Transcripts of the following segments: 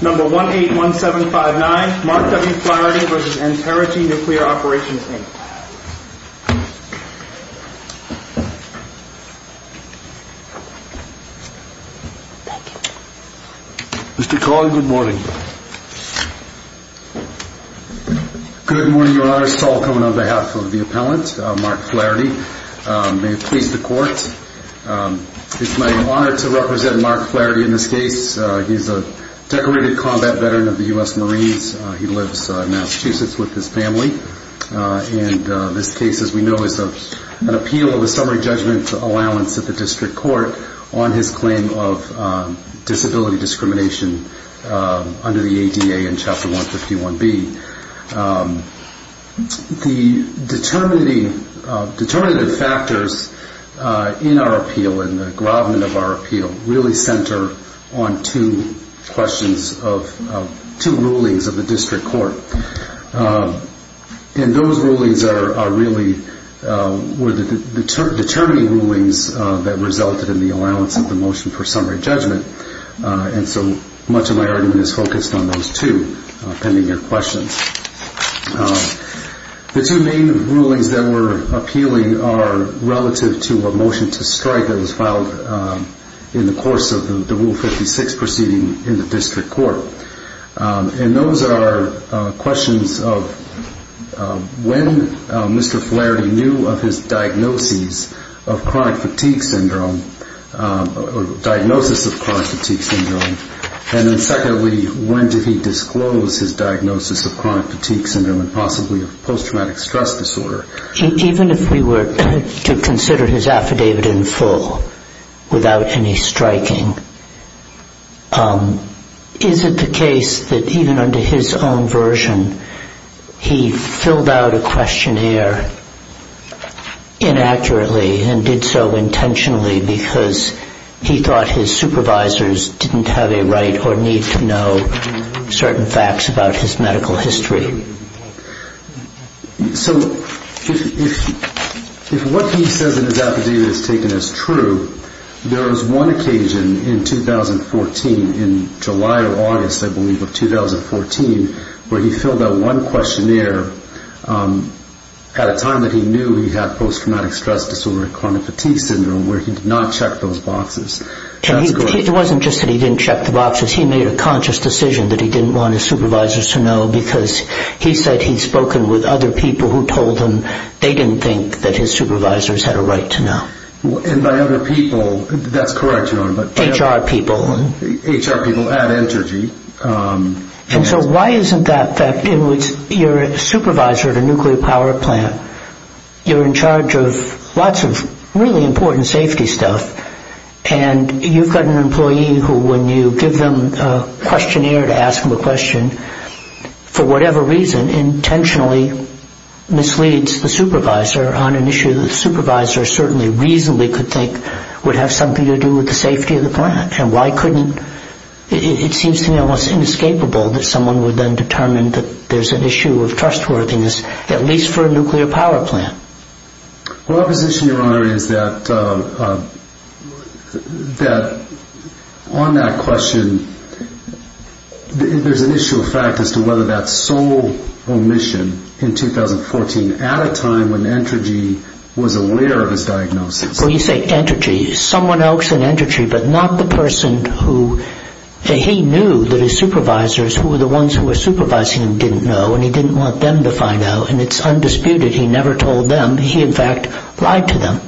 Number 181759, Mark W. Flaherty v. Entergy Nuclear Operations, Inc. Mr. Cohen, good morning. Good morning, Your Honor. Saul Cohen on behalf of the appellant, Mark Flaherty. May it please the Court. It's my honor to represent Mark Flaherty in this case. He's a decorated combat veteran of the U.S. Marines. He lives in Massachusetts with his family. And this case, as we know, is an appeal of a summary judgment allowance at the district court on his claim of disability discrimination under the ADA and Chapter 151B. The determinative factors in our appeal, in the gravamen of our appeal, really center on two questions of two rulings of the district court. And those rulings are really determining rulings that resulted in the allowance of the motion for summary judgment. And so much of my argument is focused on those two, pending your questions. The two main rulings that we're appealing are relative to a motion to strike that was filed in the course of the Rule 56 proceeding in the district court. And those are questions of when Mr. Flaherty knew of his diagnosis of chronic fatigue syndrome, or diagnosis of chronic fatigue syndrome. And then secondly, when did he disclose his diagnosis of chronic fatigue syndrome and possibly of post-traumatic stress disorder? Even if we were to consider his affidavit in full without any striking, is it the case that even under his own version he filled out a questionnaire inaccurately and did so intentionally because he thought his supervisors didn't have a right or need to know certain facts about his medical history? So if what he says in his affidavit is taken as true, there was one occasion in 2014, in July or August, I believe, of 2014, where he filled out one questionnaire at a time that he knew he had post-traumatic stress disorder and chronic fatigue syndrome where he did not check those boxes. It wasn't just that he didn't check the boxes. He made a conscious decision that he didn't want his supervisors to know because he said he'd spoken with other people who told him they didn't think that his supervisors had a right to know. And by other people, that's correct, Your Honor. HR people. HR people at Entergy. And so why isn't that in which you're a supervisor at a nuclear power plant, you're in charge of lots of really important safety stuff, and you've got an employee who when you give them a questionnaire to ask them a question, for whatever reason, intentionally misleads the supervisor on an issue that the supervisor certainly reasonably could think would have something to do with the safety of the plant? And why couldn't, it seems to me almost inescapable that someone would then determine that there's an issue of trustworthiness, at least for a nuclear power plant. Well, our position, Your Honor, is that on that question, there's an issue of fact as to whether that sole omission in 2014 at a time when Entergy was aware of his diagnosis. Well, you say Entergy. Someone else in Entergy, but not the person who he knew that his supervisors, who were the ones who were supervising him, didn't know, and he didn't want them to find out. And it's undisputed. He never told them. He, in fact, lied to them.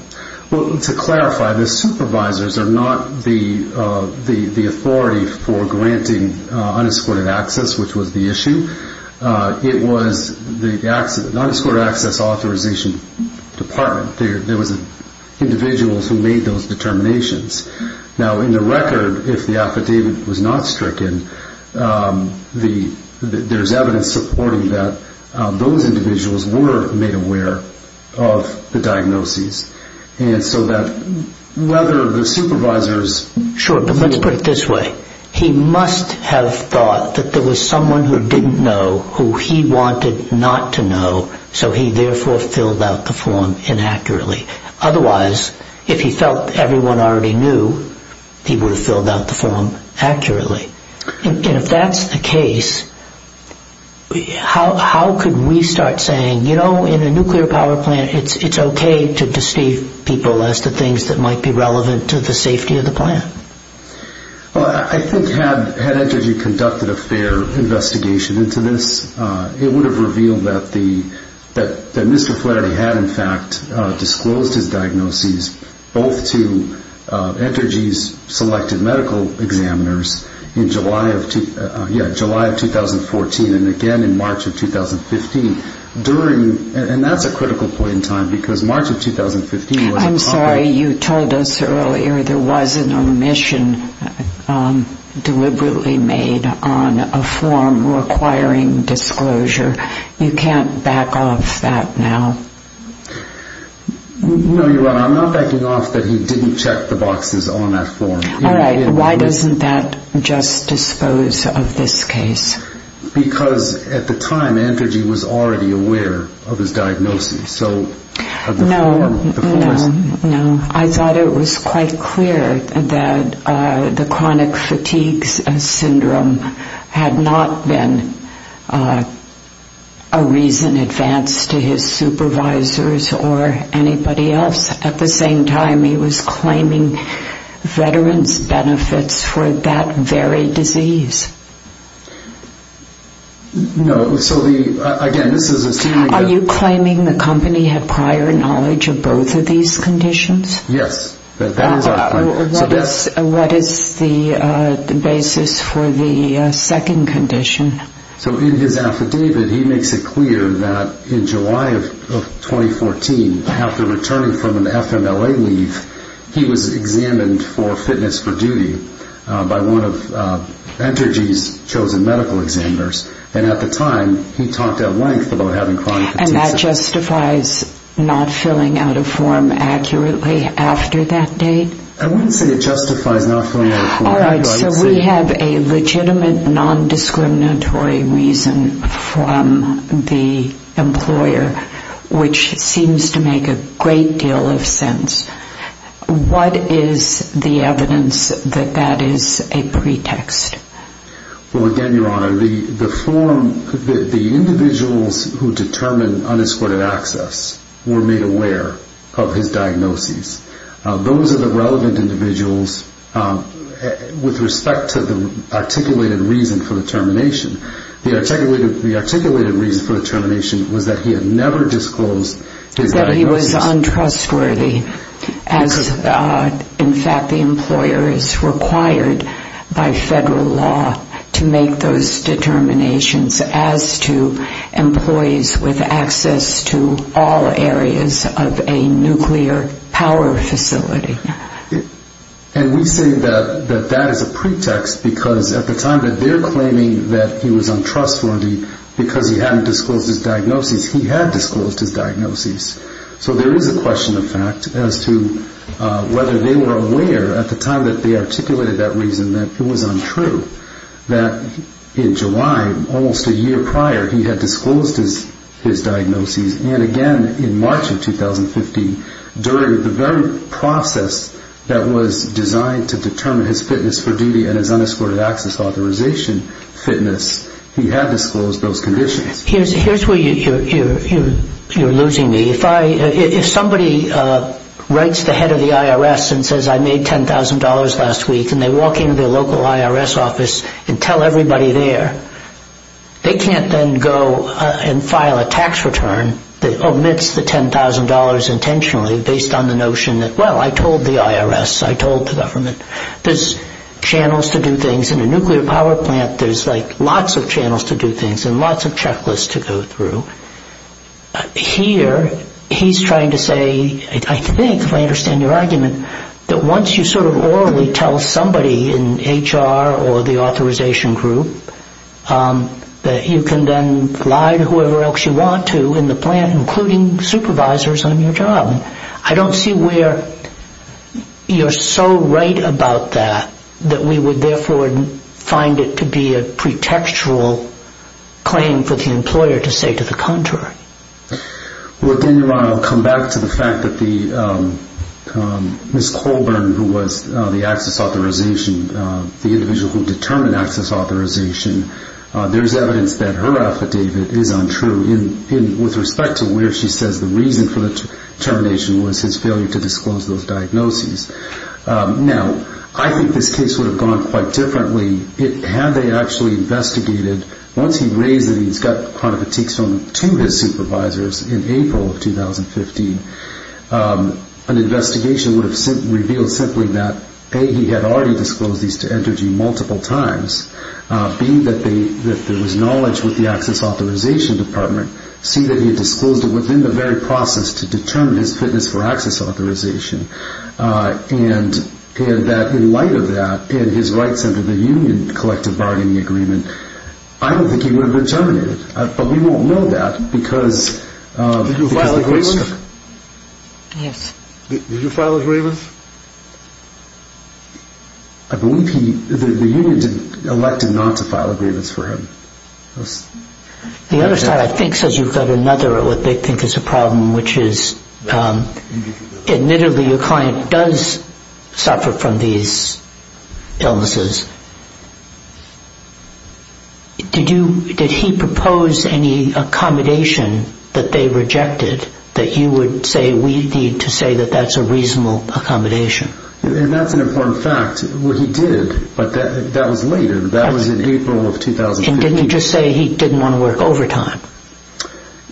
Well, to clarify, the supervisors are not the authority for granting unescorted access, which was the issue. It was the unescorted access authorization department. There was individuals who made those determinations. Now, in the record, if the affidavit was not stricken, there's evidence supporting that those individuals were made aware of the diagnoses. And so that whether the supervisors... Sure, but let's put it this way. He must have thought that there was someone who didn't know who he wanted not to know, so he therefore filled out the form inaccurately. Otherwise, if he felt everyone already knew, he would have filled out the form accurately. And if that's the case, how could we start saying, you know, in a nuclear power plant, it's okay to deceive people as to things that might be relevant to the safety of the plant? Well, I think had Entergy conducted a fair investigation into this, it would have revealed that Mr. Flaherty had, in fact, disclosed his diagnoses, both to Entergy's selected medical examiners in July of 2014 and again in March of 2015. And that's a critical point in time, because March of 2015... I'm sorry, you told us earlier there was an omission deliberately made on a form requiring disclosure. You can't back off that now. No, you're right. I'm not backing off that he didn't check the boxes on that form. All right. Why doesn't that just dispose of this case? Because at the time, Entergy was already aware of his diagnoses. No, no, no. I thought it was quite clear that the chronic fatigue syndrome had not been a reason advanced to his supervisors or anybody else. At the same time, he was claiming veterans' benefits for that very disease. No, so again, this is assuming that... Are you claiming the company had prior knowledge of both of these conditions? Yes, that is our claim. What is the basis for the second condition? So in his affidavit, he makes it clear that in July of 2014, after returning from an FMLA leave, he was examined for fitness for duty by one of Entergy's chosen medical examiners. And at the time, he talked at length about having chronic fatigue syndrome. And that justifies not filling out a form accurately after that date? I wouldn't say it justifies not filling out a form. All right, so we have a legitimate, non-discriminatory reason from the employer, which seems to make a great deal of sense. What is the evidence that that is a pretext? Well, again, Your Honor, the individuals who determine unescorted access were made aware of his diagnoses. Those are the relevant individuals with respect to the articulated reason for the termination. The articulated reason for the termination was that he had never disclosed his diagnoses. He was untrustworthy as, in fact, the employer is required by federal law to make those determinations as to employees with access to all areas of a nuclear power facility. And we say that that is a pretext because at the time that they're claiming that he was untrustworthy because he hadn't disclosed his diagnoses, he had disclosed his diagnoses. So there is a question, in fact, as to whether they were aware at the time that they articulated that reason that it was untrue that in July, almost a year prior, he had disclosed his diagnoses. And again, in March of 2015, during the very process that was designed to determine his fitness for duty and his unescorted access authorization fitness, he had disclosed those conditions. Here's where you're losing me. If somebody writes the head of the IRS and says, I made $10,000 last week, and they walk into the local IRS office and tell everybody there, they can't then go and file a tax return that omits the $10,000 intentionally based on the notion that, well, I told the IRS, I told the government. There's channels to do things in a nuclear power plant. There's like lots of channels to do things and lots of checklists to go through. Here he's trying to say, I think, if I understand your argument, that once you sort of orally tell somebody in HR or the authorization group that you can then lie to whoever else you want to in the plant, including supervisors on your job. I don't see where you're so right about that that we would, therefore, find it to be a pretextual claim for the employer to say to the contrary. Well, then you're right. I'll come back to the fact that Ms. Colburn, who was the access authorization, the individual who determined access authorization, there's evidence that her affidavit is untrue with respect to where she says the reason for the termination was his failure to disclose those diagnoses. Now, I think this case would have gone quite differently had they actually investigated. Once he raised that he's got chronic fatigues from two of his supervisors in April of 2015, an investigation would have revealed simply that, A, he had already disclosed these to Entergy multiple times, B, that there was knowledge with the access authorization department, C, that he had disclosed it within the very process to determine his fitness for access authorization, and that in light of that and his rights under the union collective bargaining agreement, I don't think he would have been terminated. But we won't know that because the case took. Did you file a grievance? Yes. Did you file a grievance? I believe the union elected not to file a grievance for him. The other side, I think, says you've got another what they think is a problem, which is admittedly your client does suffer from these illnesses. Did he propose any accommodation that they rejected that you would say we need to say that that's a reasonable accommodation? That's an important fact. He did, but that was later. That was in April of 2015. Didn't he just say he didn't want to work overtime?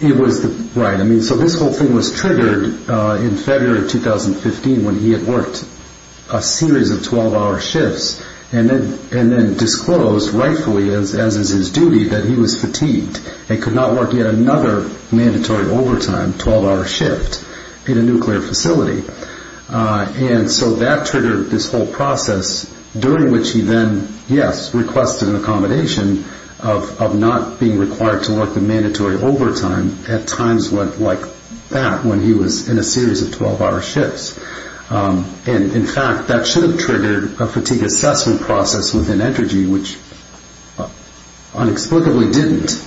Right. So this whole thing was triggered in February of 2015 when he had worked a series of 12-hour shifts and then disclosed rightfully, as is his duty, that he was fatigued and could not work yet another mandatory overtime 12-hour shift in a nuclear facility. And so that triggered this whole process during which he then, yes, requested an accommodation of not being required to work the mandatory overtime at times like that when he was in a series of 12-hour shifts. And, in fact, that should have triggered a fatigue assessment process within Entergy, which inexplicably didn't.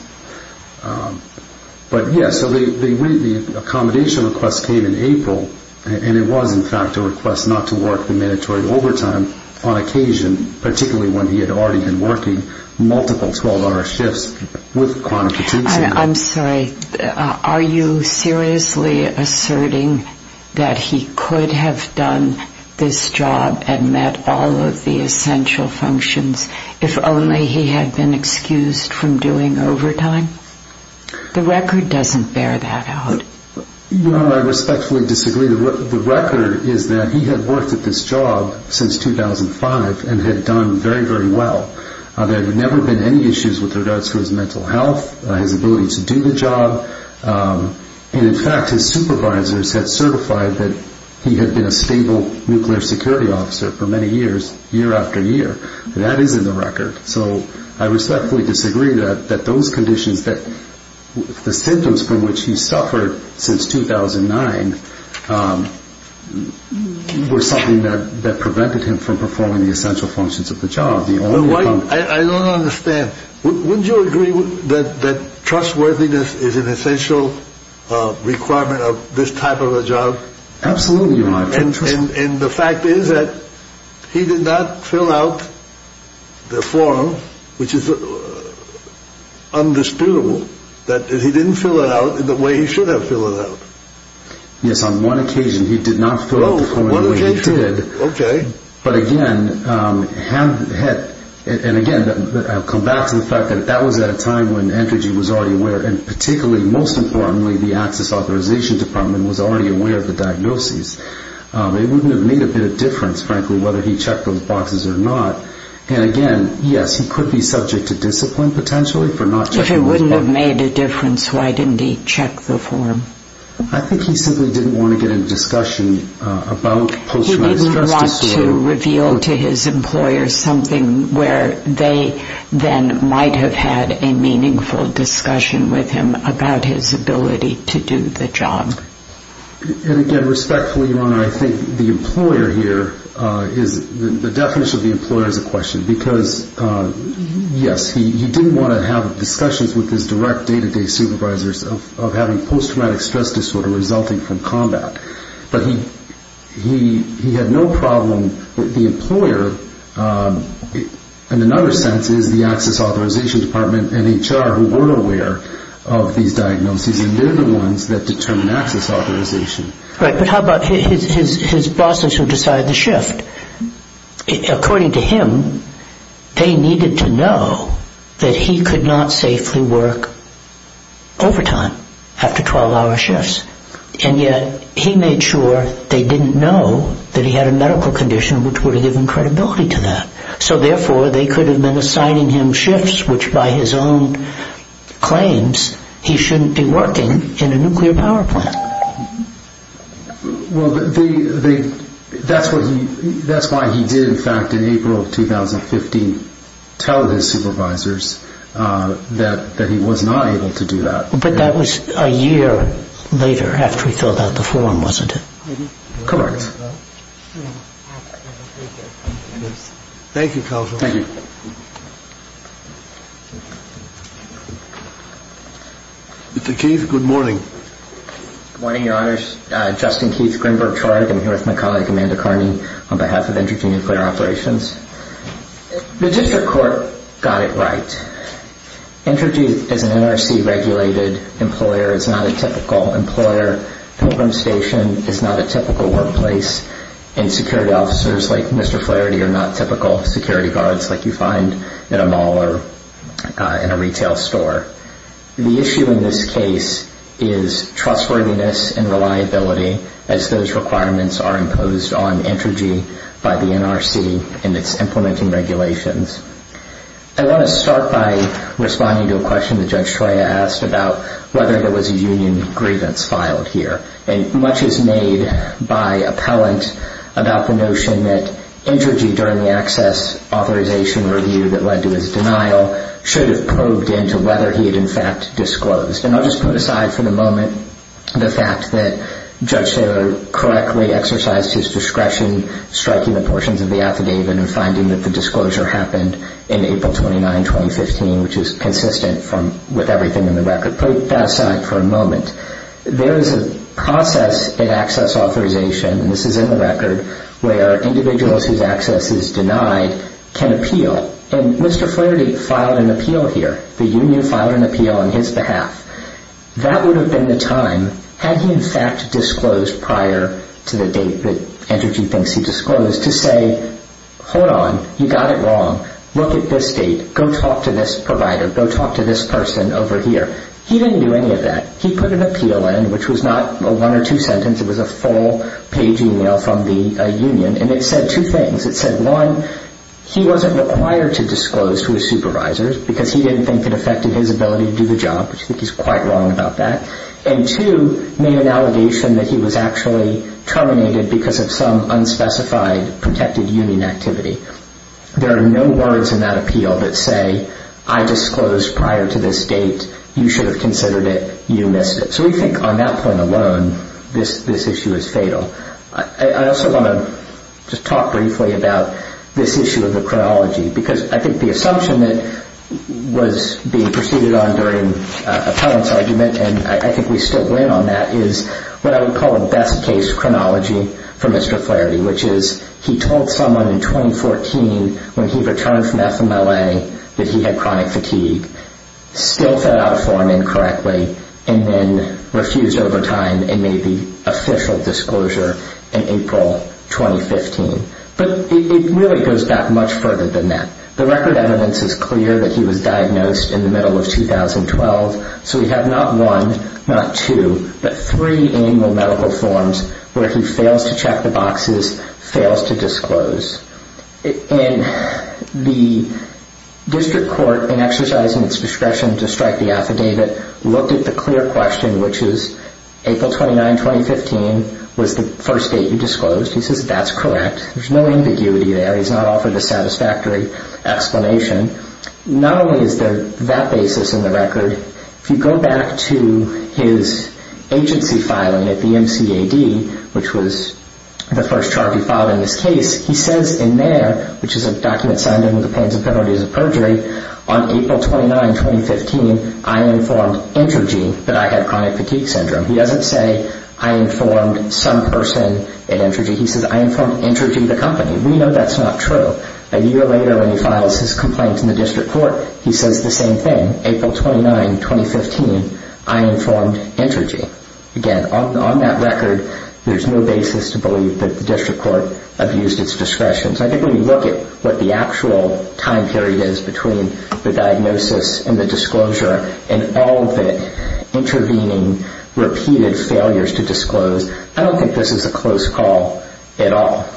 But, yes, so the accommodation request came in April, and it was, in fact, a request not to work the mandatory overtime on occasion, particularly when he had already been working multiple 12-hour shifts with chronic fatigue syndrome. I'm sorry. Are you seriously asserting that he could have done this job and met all of the essential functions if only he had been excused from doing overtime? The record doesn't bear that out. Well, I respectfully disagree. The record is that he had worked at this job since 2005 and had done very, very well. There had never been any issues with regards to his mental health, his ability to do the job. And, in fact, his supervisors had certified that he had been a stable nuclear security officer for many years, year after year. That is in the record. So I respectfully disagree that those conditions that the symptoms from which he suffered since 2009 were something that prevented him from performing the essential functions of the job. I don't understand. Wouldn't you agree that trustworthiness is an essential requirement of this type of a job? Absolutely not. And the fact is that he did not fill out the form, which is undisputable, that he didn't fill it out in the way he should have filled it out. Yes, on one occasion he did not fill out the form in the way he did. Oh, one occasion? Okay. But, again, I'll come back to the fact that that was at a time when ENTREGY was already aware, and particularly, most importantly, the Access Authorization Department was already aware of the diagnoses. It wouldn't have made a bit of difference, frankly, whether he checked those boxes or not. And, again, yes, he could be subject to discipline, potentially, for not checking those boxes. If it wouldn't have made a difference, why didn't he check the form? I think he simply didn't want to get into discussion about post-traumatic stress disorder. He wanted to reveal to his employer something where they then might have had a meaningful discussion with him about his ability to do the job. And, again, respectfully, Your Honor, I think the employer here is the definition of the employer is a question. Because, yes, he didn't want to have discussions with his direct day-to-day supervisors of having post-traumatic stress disorder resulting from combat. But he had no problem with the employer. In another sense, it is the Access Authorization Department and HR who were aware of these diagnoses, and they're the ones that determine access authorization. Right, but how about his bosses who decided the shift? According to him, they needed to know that he could not safely work overtime after 12-hour shifts. And yet he made sure they didn't know that he had a medical condition which would have given credibility to that. So, therefore, they could have been assigning him shifts which, by his own claims, he shouldn't be working in a nuclear power plant. Well, that's why he did, in fact, in April of 2015, tell his supervisors that he was not able to do that. But that was a year later after he filled out the form, wasn't it? Correct. Thank you, counsel. Thank you. Mr. Keith, good morning. Good morning, Your Honors. Justin Keith, Greenberg Charter. I'm here with my colleague Amanda Carney on behalf of Intergy Nuclear Operations. The district court got it right. Intergy is an NRC-regulated employer. It's not a typical employer. Pilgrim Station is not a typical workplace. And security officers like Mr. Flaherty are not typical security guards like you find at a mall or in a retail store. The issue in this case is trustworthiness and reliability as those requirements are imposed on Intergy by the NRC in its implementing regulations. I want to start by responding to a question that Judge Troya asked about whether there was a union grievance filed here. And much is made by appellant about the notion that Intergy, during the access authorization review that led to his denial, should have probed into whether he had, in fact, disclosed. And I'll just put aside for the moment the fact that Judge Taylor correctly exercised his discretion striking the portions of the affidavit and finding that the disclosure happened in April 29, 2015, which is consistent with everything in the record. Put that aside for a moment. There is a process in access authorization, and this is in the record, where individuals whose access is denied can appeal. And Mr. Flaherty filed an appeal here. The union filed an appeal on his behalf. That would have been the time, had he, in fact, disclosed prior to the date that Intergy thinks he disclosed, to say, hold on. You got it wrong. Look at this date. Go talk to this provider. Go talk to this person over here. He didn't do any of that. He put an appeal in, which was not a one or two sentence. It was a full-page email from the union, and it said two things. It said, one, he wasn't required to disclose to his supervisors because he didn't think it affected his ability to do the job, which I think he's quite wrong about that, and, two, made an allegation that he was actually terminated because of some unspecified protected union activity. There are no words in that appeal that say, I disclosed prior to this date. You should have considered it. You missed it. So we think on that point alone, this issue is fatal. I also want to just talk briefly about this issue of the chronology because I think the assumption that was being proceeded on during Appellant's argument, and I think we still win on that, is what I would call a best-case chronology for Mr. Flaherty, which is he told someone in 2014 when he returned from FMLA that he had chronic fatigue, still filled out a form incorrectly, and then refused over time and made the official disclosure in April 2015. But it really goes back much further than that. The record evidence is clear that he was diagnosed in the middle of 2012, so we have not one, not two, but three annual medical forms where he fails to check the boxes, fails to disclose. And the district court, in exercising its discretion to strike the affidavit, looked at the clear question, which is April 29, 2015 was the first date you disclosed. He says that's correct. There's no ambiguity there. He's not offered a satisfactory explanation. Not only is there that basis in the record, if you go back to his agency filing at the MCAD, which was the first charge he filed in this case, he says in there, which is a document signed in with the pains and penalties of perjury, on April 29, 2015, I informed Entergy that I had chronic fatigue syndrome. He doesn't say I informed some person at Entergy. He says I informed Entergy, the company. We know that's not true. A year later when he files his complaint in the district court, he says the same thing. April 29, 2015, I informed Entergy. Again, on that record, there's no basis to believe that the district court abused its discretion. So I think when you look at what the actual time period is between the diagnosis and the disclosure and all of it intervening, repeated failures to disclose, I don't think this is a close call at all.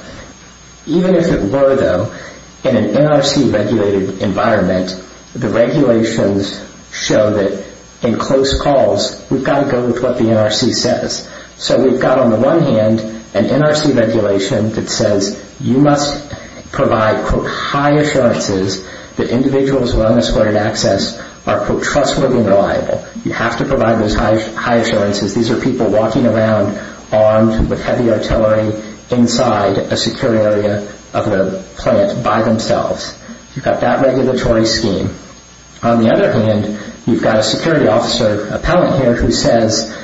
Even if it were, though, in an NRC-regulated environment, the regulations show that in close calls we've got to go with what the NRC says. So we've got on the one hand an NRC regulation that says you must provide quote high assurances that individuals with unescorted access are quote trustworthy and reliable. You have to provide those high assurances. These are people walking around armed with heavy artillery inside a secure area of the plant by themselves. You've got that regulatory scheme. On the other hand, you've got a security officer appellant here who says,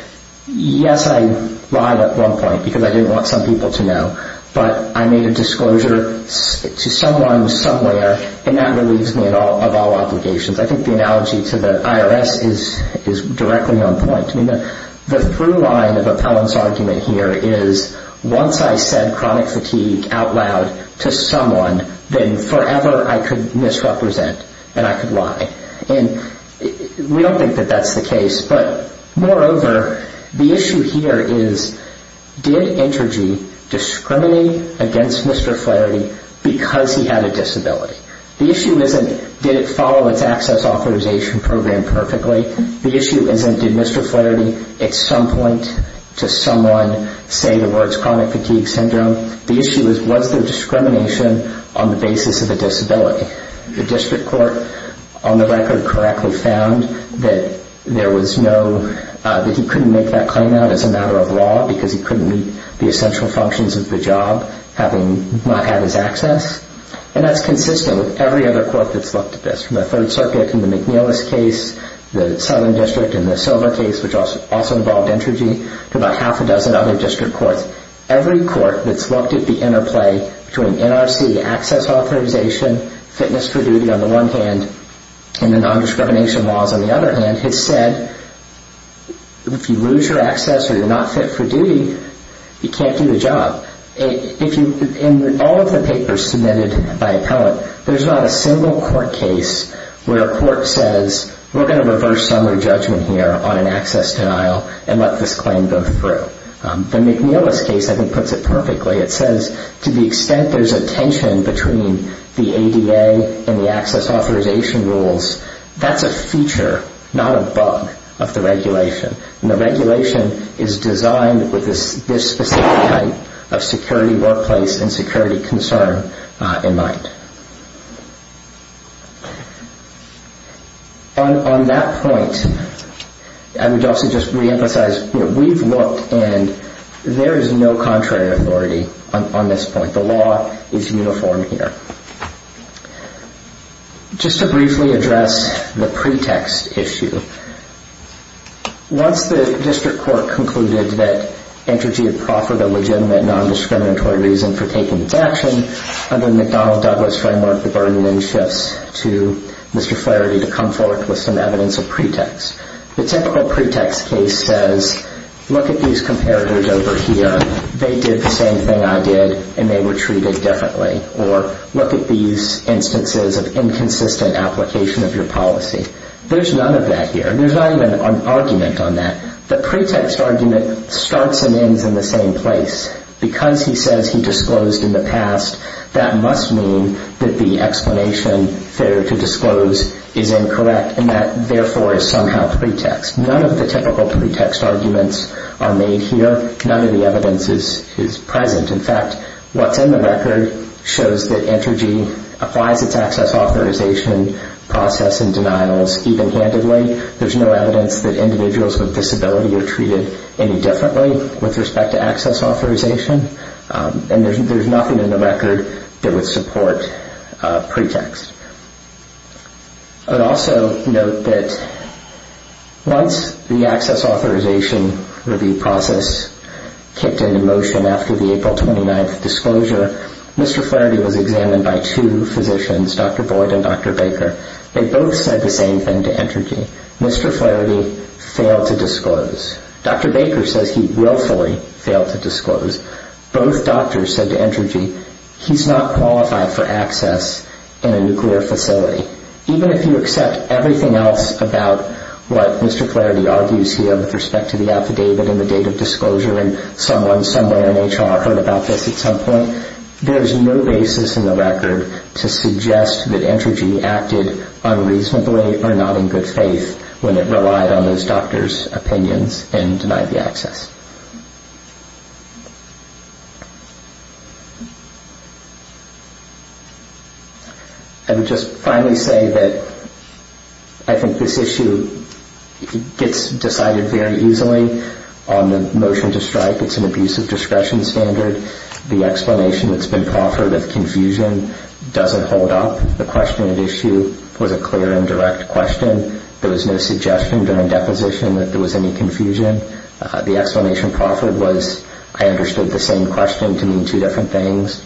yes, I lied at one point because I didn't want some people to know, but I made a disclosure to someone somewhere, and that relieves me of all obligations. I think the analogy to the IRS is directly on point. The through line of appellant's argument here is once I said chronic fatigue out loud to someone, then forever I could misrepresent and I could lie. We don't think that that's the case. But moreover, the issue here is did Entergy discriminate against Mr. Flaherty because he had a disability? The issue isn't did it follow its access authorization program perfectly. The issue isn't did Mr. Flaherty at some point to someone say the words chronic fatigue syndrome. The issue is was there discrimination on the basis of a disability. The district court on the record correctly found that there was no, that he couldn't make that claim out as a matter of law because he couldn't meet the essential functions of the job having not had his access. And that's consistent with every other court that's looked at this, from the Third Circuit in the McNeilis case, the Southern District in the Silver case, which also involved Entergy, to about half a dozen other district courts. Every court that's looked at the interplay between NRC access authorization, fitness for duty on the one hand, and the nondiscrimination laws on the other hand, has said if you lose your access or you're not fit for duty, you can't do the job. In all of the papers submitted by appellate, there's not a single court case where a court says we're going to reverse summary judgment here on an access denial and let this claim go through. The McNeilis case, I think, puts it perfectly. It says to the extent there's a tension between the ADA and the access authorization rules, that's a feature, not a bug, of the regulation. And the regulation is designed with this specific type of security workplace and security concern in mind. On that point, I would also just reemphasize we've looked and there is no contrary authority on this point. The law is uniform here. Just to briefly address the pretext issue, once the district court concluded that Entergy had proffered a legitimate nondiscriminatory reason for taking its action under the McDonnell-Douglas framework, the burden then shifts to Mr. Flaherty to come forward with some evidence of pretext. The typical pretext case says look at these comparators over here. They did the same thing I did and they were treated differently. Or look at these instances of inconsistent application of your policy. There's none of that here. There's not even an argument on that. The pretext argument starts and ends in the same place. Because he says he disclosed in the past, that must mean that the explanation there to disclose is incorrect and that therefore is somehow pretext. None of the typical pretext arguments are made here. None of the evidence is present. In fact, what's in the record shows that Entergy applies its access authorization process and denials even-handedly. There's no evidence that individuals with disability are treated any differently with respect to access authorization. And there's nothing in the record that would support pretext. I'd also note that once the access authorization review process kicked into motion after the April 29th disclosure, Mr. Flaherty was examined by two physicians, Dr. Boyd and Dr. Baker. They both said the same thing to Entergy. Mr. Flaherty failed to disclose. Dr. Baker says he willfully failed to disclose. Both doctors said to Entergy, he's not qualified for access in a nuclear facility. Even if you accept everything else about what Mr. Flaherty argues here with respect to the affidavit and the date of disclosure and someone somewhere in HR heard about this at some point, there's no basis in the record to suggest that Entergy acted unreasonably or not in good faith when it relied on those doctors' opinions and denied the access. I would just finally say that I think this issue gets decided very easily on the motion to strike. It's an abusive discretion standard. The explanation that's been proffered as confusion doesn't hold up. The question at issue was a clear and direct question. There was no suggestion during deposition that there was any confusion. The explanation proffered was I understood the same question to mean two different things.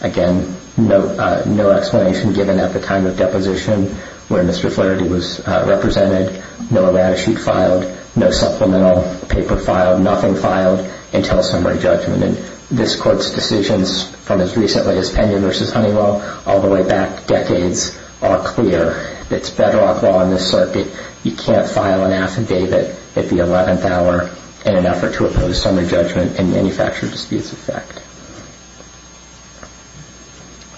Again, no explanation given at the time of deposition where Mr. Flaherty was represented. No latitude filed, no supplemental paper filed, nothing filed until summary judgment. This Court's decisions from as recently as Pena v. Honeywell all the way back decades are clear. It's bedrock law in this circuit. You can't file an affidavit at the 11th hour in an effort to oppose summary judgment and manufacture disputes of fact.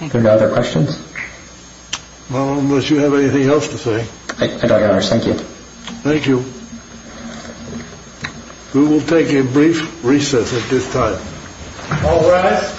Are there no other questions? Well, unless you have anything else to say. I don't, Your Honor. Thank you. Thank you. We will take a brief recess at this time. All rise. Thank you.